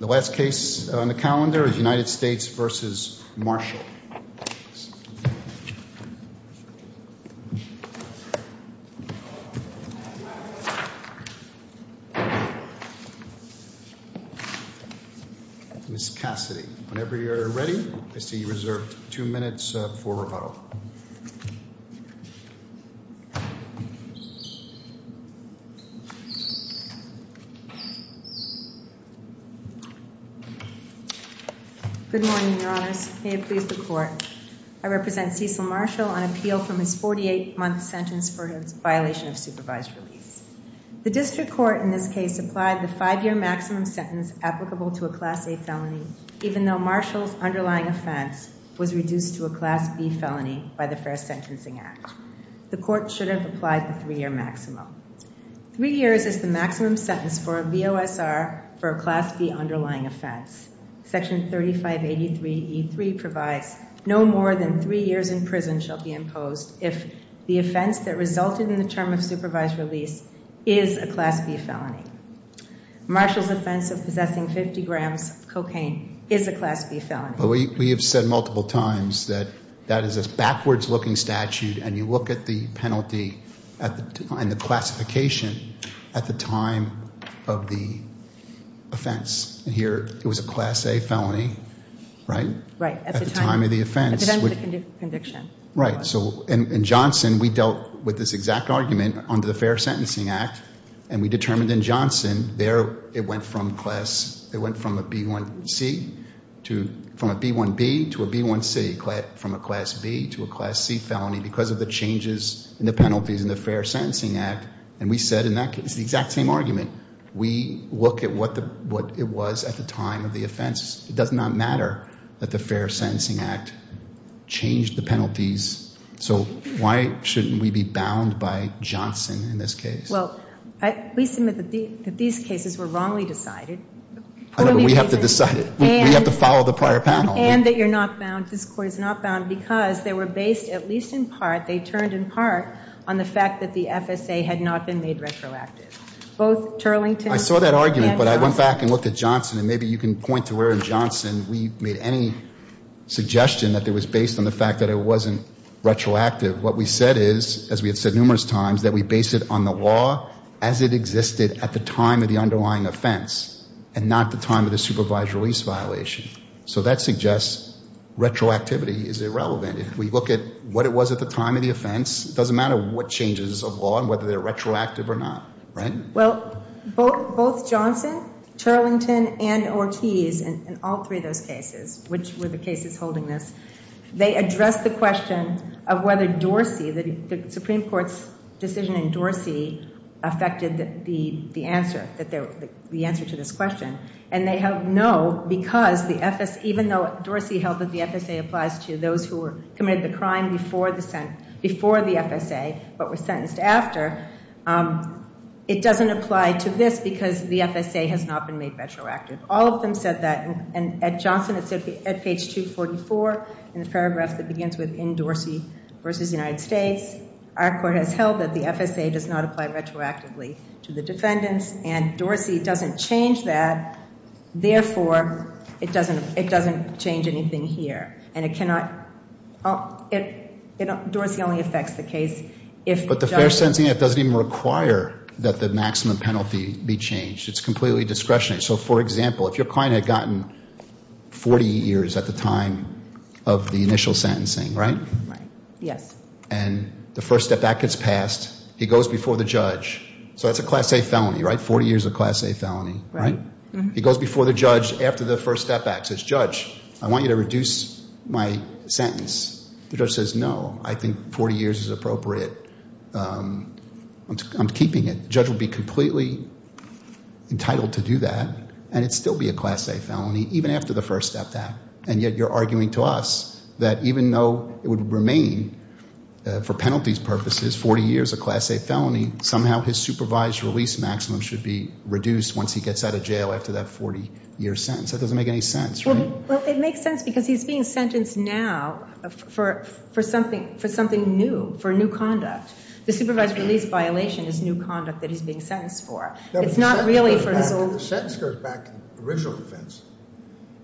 The last case on the calendar is United States v. Marshall Ms. Cassidy, whenever you are ready, I see you reserved two minutes for rebuttal Good morning, Your Honors. May it please the Court. I represent Cecil Marshall on appeal from his 48-month sentence for his violation of supervised release. The District Court in this case applied the five-year maximum sentence applicable to a Class A felony, even though Marshall's underlying offense was reduced to a Class B felony by the First Sentencing Act. The Court should have applied the three-year maximum. Three years is the maximum sentence for a VOSR for a Class B underlying offense. Section 3583E3 provides no more than three years in prison shall be imposed if the offense that resulted in the term of supervised release is a Class B felony. Marshall's offense of possessing 50 grams of cocaine is a Class B felony. We have said multiple times that that is a backwards-looking statute, and you look at the penalty and the classification at the time of the offense. Here, it was a Class A felony, right? Right. At the time of the offense. At the time of the conviction. Right. So in Johnson, we dealt with this exact argument under the Fair Sentencing Act, and we determined in Johnson there it went from a B1C to a B1C, from a Class B to a Class C felony because of the changes in the penalties in the Fair Sentencing Act. And we said in that case, the exact same argument, we look at what it was at the time of the offense. It does not matter that the Fair Sentencing Act changed the penalties. So why shouldn't we be bound by Johnson in this case? Well, we submit that these cases were wrongly decided. We have to decide it. We have to follow the prior panel. And that you're not bound, this Court is not bound, because they were based at least in part, they turned in part, on the fact that the FSA had not been made retroactive. Both Turlington and Johnson. I saw that argument, but I went back and looked at Johnson, and maybe you can point to where in Johnson we made any suggestion that it was based on the fact that it wasn't retroactive. What we said is, as we have said numerous times, that we based it on the law as it existed at the time of the underlying offense, and not the time of the supervised release violation. So that suggests retroactivity is irrelevant. If we look at what it was at the time of the offense, it doesn't matter what changes of law and whether they're retroactive or not, right? Well, both Johnson, Turlington, and Ortiz in all three of those cases, which were the cases holding this, they addressed the question of whether Dorsey, the Supreme Court's decision in Dorsey, affected the answer, the answer to this question. And they have no, because the FSA, even though Dorsey held that the FSA applies to those who committed the crime before the FSA, but were sentenced after, it doesn't apply to this because the FSA has not been made retroactive. All of them said that, and at Johnson, it's at page 244 in the paragraph that begins with, in Dorsey v. United States, our court has held that the FSA does not apply retroactively to the defendants, and Dorsey doesn't change that. Therefore, it doesn't change anything here. And it cannot, Dorsey only affects the case if Johnson- But the fair sentencing, it doesn't even require that the maximum penalty be changed. It's completely discretionary. So, for example, if your client had gotten 40 years at the time of the initial sentencing, right? Right, yes. And the first step back gets passed. He goes before the judge. So that's a class A felony, right? 40 years of class A felony, right? He goes before the judge after the first step back, says, judge, I want you to reduce my sentence. The judge says, no, I think 40 years is appropriate. I'm keeping it. The judge would be completely entitled to do that, and it would still be a class A felony, even after the first step back. And yet you're arguing to us that even though it would remain, for penalties purposes, 40 years of class A felony, somehow his supervised release maximum should be reduced once he gets out of jail after that 40-year sentence. That doesn't make any sense, right? Well, it makes sense because he's being sentenced now for something new, for new conduct. The supervised release violation is new conduct that he's being sentenced for. It's not really for his old- Well, the sentence goes back to the original offense.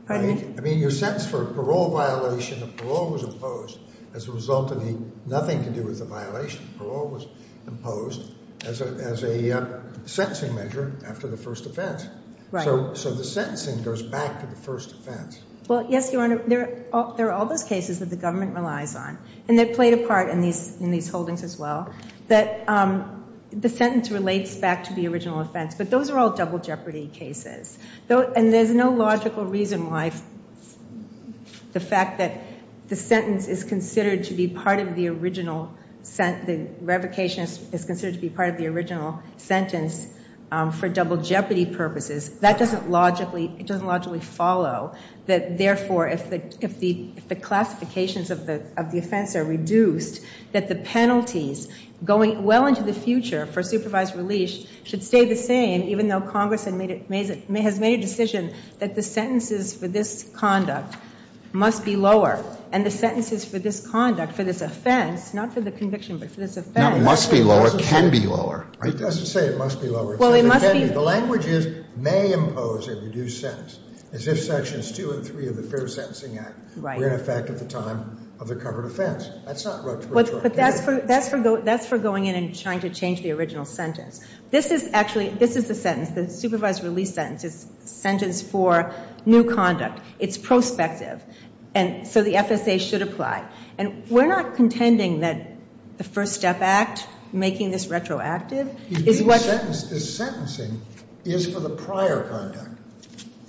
Pardon me? I mean, you're sentenced for a parole violation, and parole was imposed as a result of the nothing to do with the violation. Parole was imposed as a sentencing measure after the first offense. Right. So the sentencing goes back to the first offense. Well, yes, Your Honor. There are all those cases that the government relies on, and they've played a part in these holdings as well, that the sentence relates back to the original offense. But those are all double jeopardy cases. And there's no logical reason why the fact that the sentence is considered to be part of the original sentence, the revocation is considered to be part of the original sentence for double jeopardy purposes, that doesn't logically follow that, therefore, if the classifications of the offense are reduced, that the penalties going well into the future for supervised release should stay the same, even though Congress has made a decision that the sentences for this conduct must be lower. And the sentences for this conduct, for this offense, not for the conviction, but for this offense- Not must be lower. Can be lower. It doesn't say it must be lower. Well, it must be- The language is may impose a reduced sentence, as if Sections 2 and 3 of the Fair Sentencing Act were in effect at the time of the covered offense. That's not retroactive. But that's for going in and trying to change the original sentence. This is actually, this is the sentence, the supervised release sentence. It's a sentence for new conduct. It's prospective. And so the FSA should apply. And we're not contending that the First Step Act making this retroactive is what- The sentencing is for the prior conduct.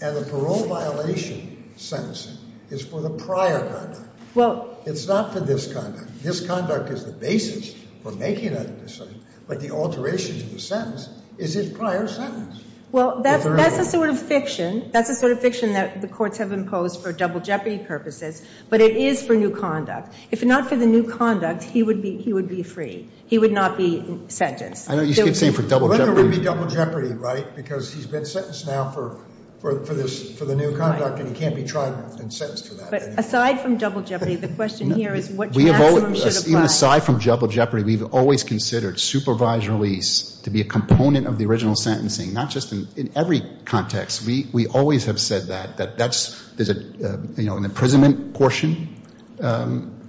And the parole violation sentencing is for the prior conduct. Well- It's not for this conduct. This conduct is the basis for making a decision. But the alteration to the sentence is his prior sentence. Well, that's a sort of fiction. That's a sort of fiction that the courts have imposed for double jeopardy purposes. But it is for new conduct. If not for the new conduct, he would be free. He would not be sentenced. I know. You keep saying for double jeopardy. Well, there would be double jeopardy, right? Because he's been sentenced now for the new conduct, and he can't be tried and sentenced for that anymore. But aside from double jeopardy, the question here is what maximum should apply. Even aside from double jeopardy, we've always considered supervised release to be a component of the original sentencing, not just in every context. We always have said that. There's an imprisonment portion, and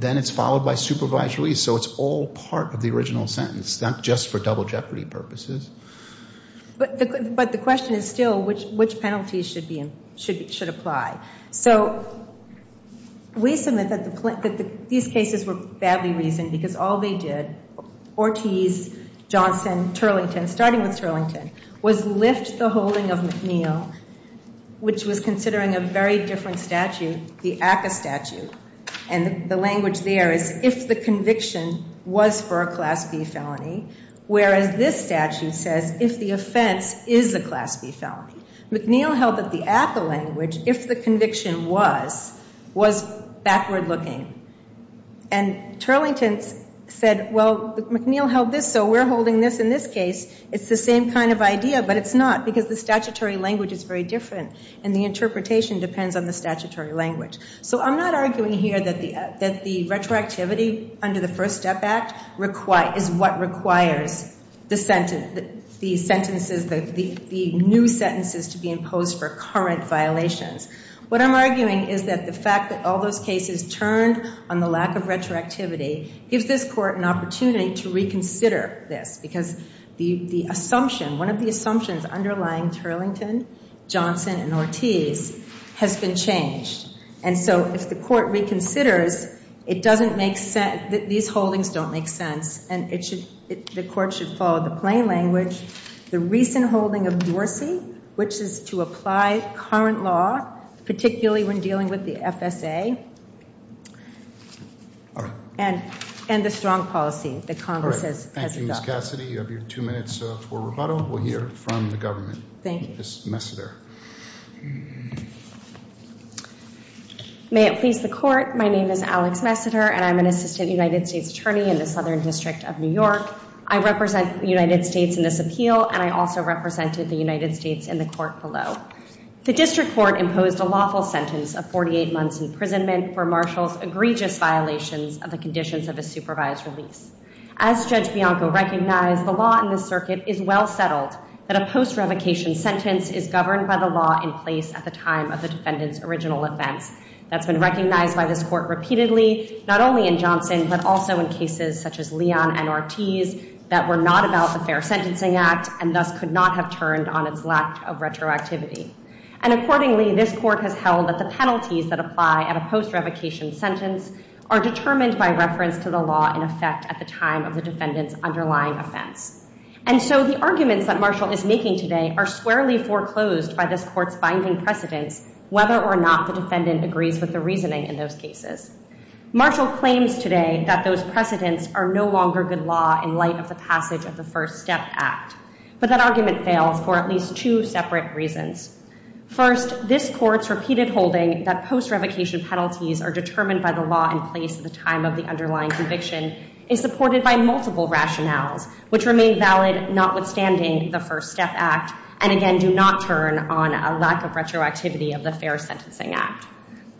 then it's followed by supervised release. So it's all part of the original sentence, not just for double jeopardy purposes. But the question is still which penalties should apply. So we submit that these cases were badly reasoned because all they did, Ortiz, Johnson, Turlington, starting with Turlington, was lift the holding of McNeill, which was considering a very different statute, the ACCA statute, and the language there is if the conviction was for a Class B felony, whereas this statute says if the offense is a Class B felony. McNeill held that the ACCA language, if the conviction was, was backward looking. And Turlington said, well, McNeill held this, so we're holding this in this case. It's the same kind of idea, but it's not because the statutory language is very different, and the interpretation depends on the statutory language. So I'm not arguing here that the retroactivity under the First Step Act is what requires the sentences, the new sentences to be imposed for current violations. What I'm arguing is that the fact that all those cases turned on the lack of retroactivity gives this Court an opportunity to reconsider this because the assumption, one of the assumptions underlying Turlington, Johnson, and Ortiz has been changed. And so if the Court reconsiders, it doesn't make sense, these holdings don't make sense, and the Court should follow the plain language, the recent holding of Dorsey, which is to apply current law, particularly when dealing with the FSA, and the strong policy that Congress has adopted. Thank you, Ms. Cassidy. You have your two minutes for rebuttal. We'll hear from the government. Thank you. Ms. Messiter. May it please the Court, my name is Alex Messiter, and I'm an assistant United States attorney in the Southern District of New York. I represent the United States in this appeal, and I also represented the United States in the Court below. The District Court imposed a lawful sentence of 48 months imprisonment for Marshall's egregious violations of the conditions of a supervised release. As Judge Bianco recognized, the law in this Circuit is well settled that a post-revocation sentence is governed by the law in place at the time of the defendant's original offense. That's been recognized by this Court repeatedly, not only in Johnson, but also in cases such as Leon and Ortiz that were not about the Fair Sentencing Act and thus could not have turned on its lack of retroactivity. And accordingly, this Court has held that the penalties that apply at a post-revocation sentence are determined by reference to the law in effect at the time of the defendant's underlying offense. And so the arguments that Marshall is making today are squarely foreclosed by this Court's binding precedence whether or not the defendant agrees with the reasoning in those cases. Marshall claims today that those precedents are no longer good law in light of the passage of the First Step Act, but that argument fails for at least two separate reasons. First, this Court's repeated holding that post-revocation penalties are determined by the law in place at the time of the underlying conviction is supported by multiple rationales, which remain valid notwithstanding the First Step Act, and again do not turn on a lack of retroactivity of the Fair Sentencing Act.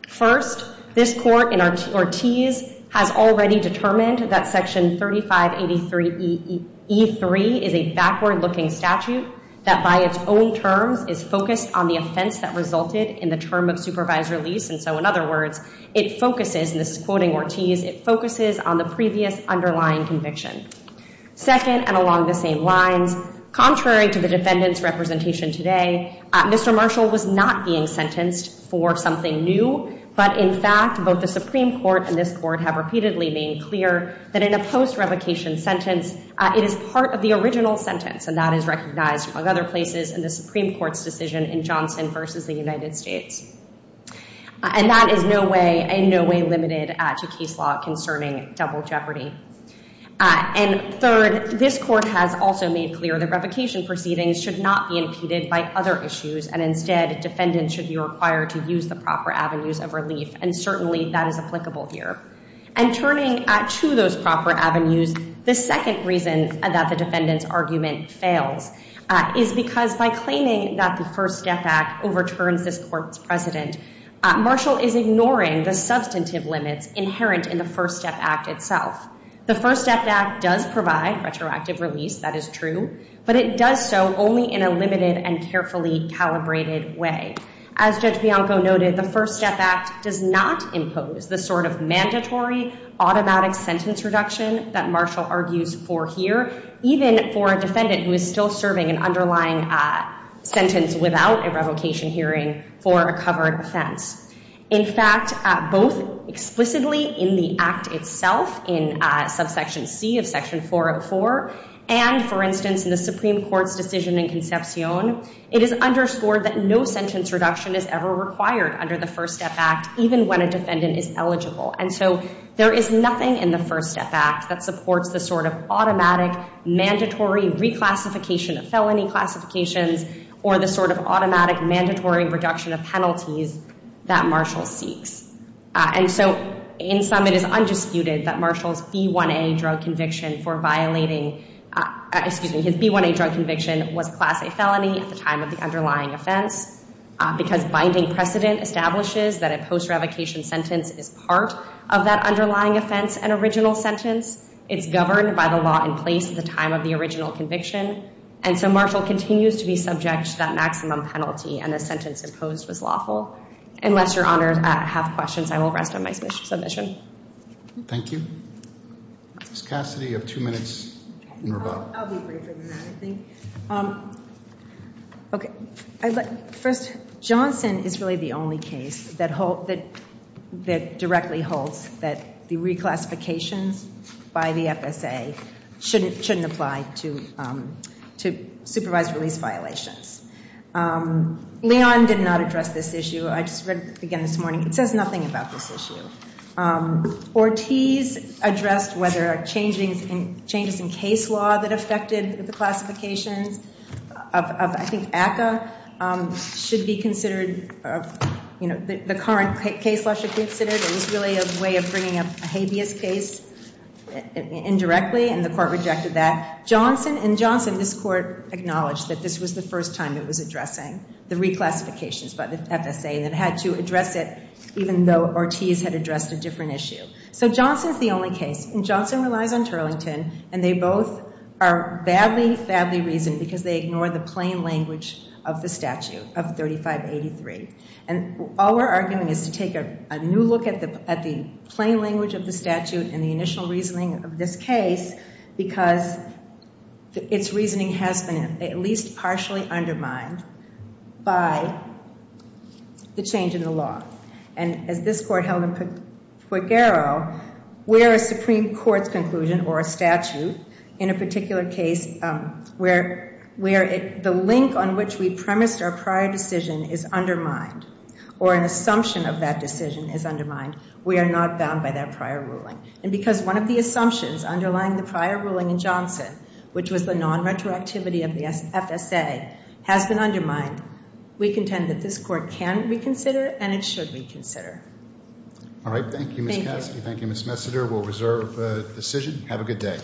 First, this Court in Ortiz has already determined that Section 3583E3 is a backward-looking statute that by its own terms is focused on the offense that resulted in the term of supervised release. And so in other words, it focuses, and this is quoting Ortiz, it focuses on the previous underlying conviction. Second, and along the same lines, contrary to the defendant's representation today, Mr. Marshall was not being sentenced for something new, but in fact both the Supreme Court and this Court have repeatedly made clear that in a post-revocation sentence it is part of the original sentence, and that is recognized among other places in the Supreme Court's decision in Johnson v. the United States. And that is in no way limited to case law concerning double jeopardy. And third, this Court has also made clear that revocation proceedings should not be impeded by other issues, and instead defendants should be required to use the proper avenues of relief, and certainly that is applicable here. And turning to those proper avenues, the second reason that the defendant's argument fails is because by claiming that the First Step Act overturns this Court's precedent, Marshall is ignoring the substantive limits inherent in the First Step Act itself. The First Step Act does provide retroactive release, that is true, but it does so only in a limited and carefully calibrated way. As Judge Bianco noted, the First Step Act does not impose the sort of mandatory automatic sentence reduction that Marshall argues for here, even for a defendant who is still serving an underlying sentence without a revocation hearing for a covered offense. In fact, both explicitly in the Act itself, in subsection C of section 404, and, for instance, in the Supreme Court's decision in Concepcion, it is underscored that no sentence reduction is ever required under the First Step Act, even when a defendant is eligible. And so there is nothing in the First Step Act that supports the sort of automatic, mandatory reclassification of felony classifications or the sort of automatic, mandatory reduction of penalties that Marshall seeks. And so in sum, it is undisputed that Marshall's B1A drug conviction for violating, excuse me, his B1A drug conviction was class A felony at the time of the underlying offense because binding precedent establishes that a post-revocation sentence is part of that underlying offense and original sentence. It's governed by the law in place at the time of the original conviction. And so Marshall continues to be subject to that maximum penalty, and the sentence imposed was lawful. Unless Your Honors have questions, I will rest on my submission. Thank you. Ms. Cassidy, you have two minutes in your vote. I'll be briefer than that, I think. Okay. First, Johnson is really the only case that directly holds that the reclassifications by the FSA shouldn't apply to supervised release violations. Leon did not address this issue. I just read it again this morning. It says nothing about this issue. Ortiz addressed whether changes in case law that affected the classifications of, I think, ACCA should be considered, you know, the current case law should be considered. It was really a way of bringing up a habeas case indirectly, and the court rejected that. In Johnson, this court acknowledged that this was the first time it was addressing the reclassifications by the FSA and it had to address it even though Ortiz had addressed a different issue. So Johnson is the only case. And Johnson relies on Turlington, and they both are badly, badly reasoned because they ignore the plain language of the statute of 3583. And all we're arguing is to take a new look at the plain language of the statute and the initial reasoning of this case because its reasoning has been at least partially undermined by the change in the law. And as this court held in Pogaro, where a Supreme Court's conclusion or a statute in a particular case where the link on which we premised our prior decision is undermined or an assumption of that decision is undermined, we are not bound by that prior ruling. And because one of the assumptions underlying the prior ruling in Johnson, which was the non-retroactivity of the FSA, has been undermined, we contend that this court can reconsider and it should reconsider. All right. Thank you, Ms. Caskey. Thank you, Ms. Messiter. We'll reserve the decision. Have a good day.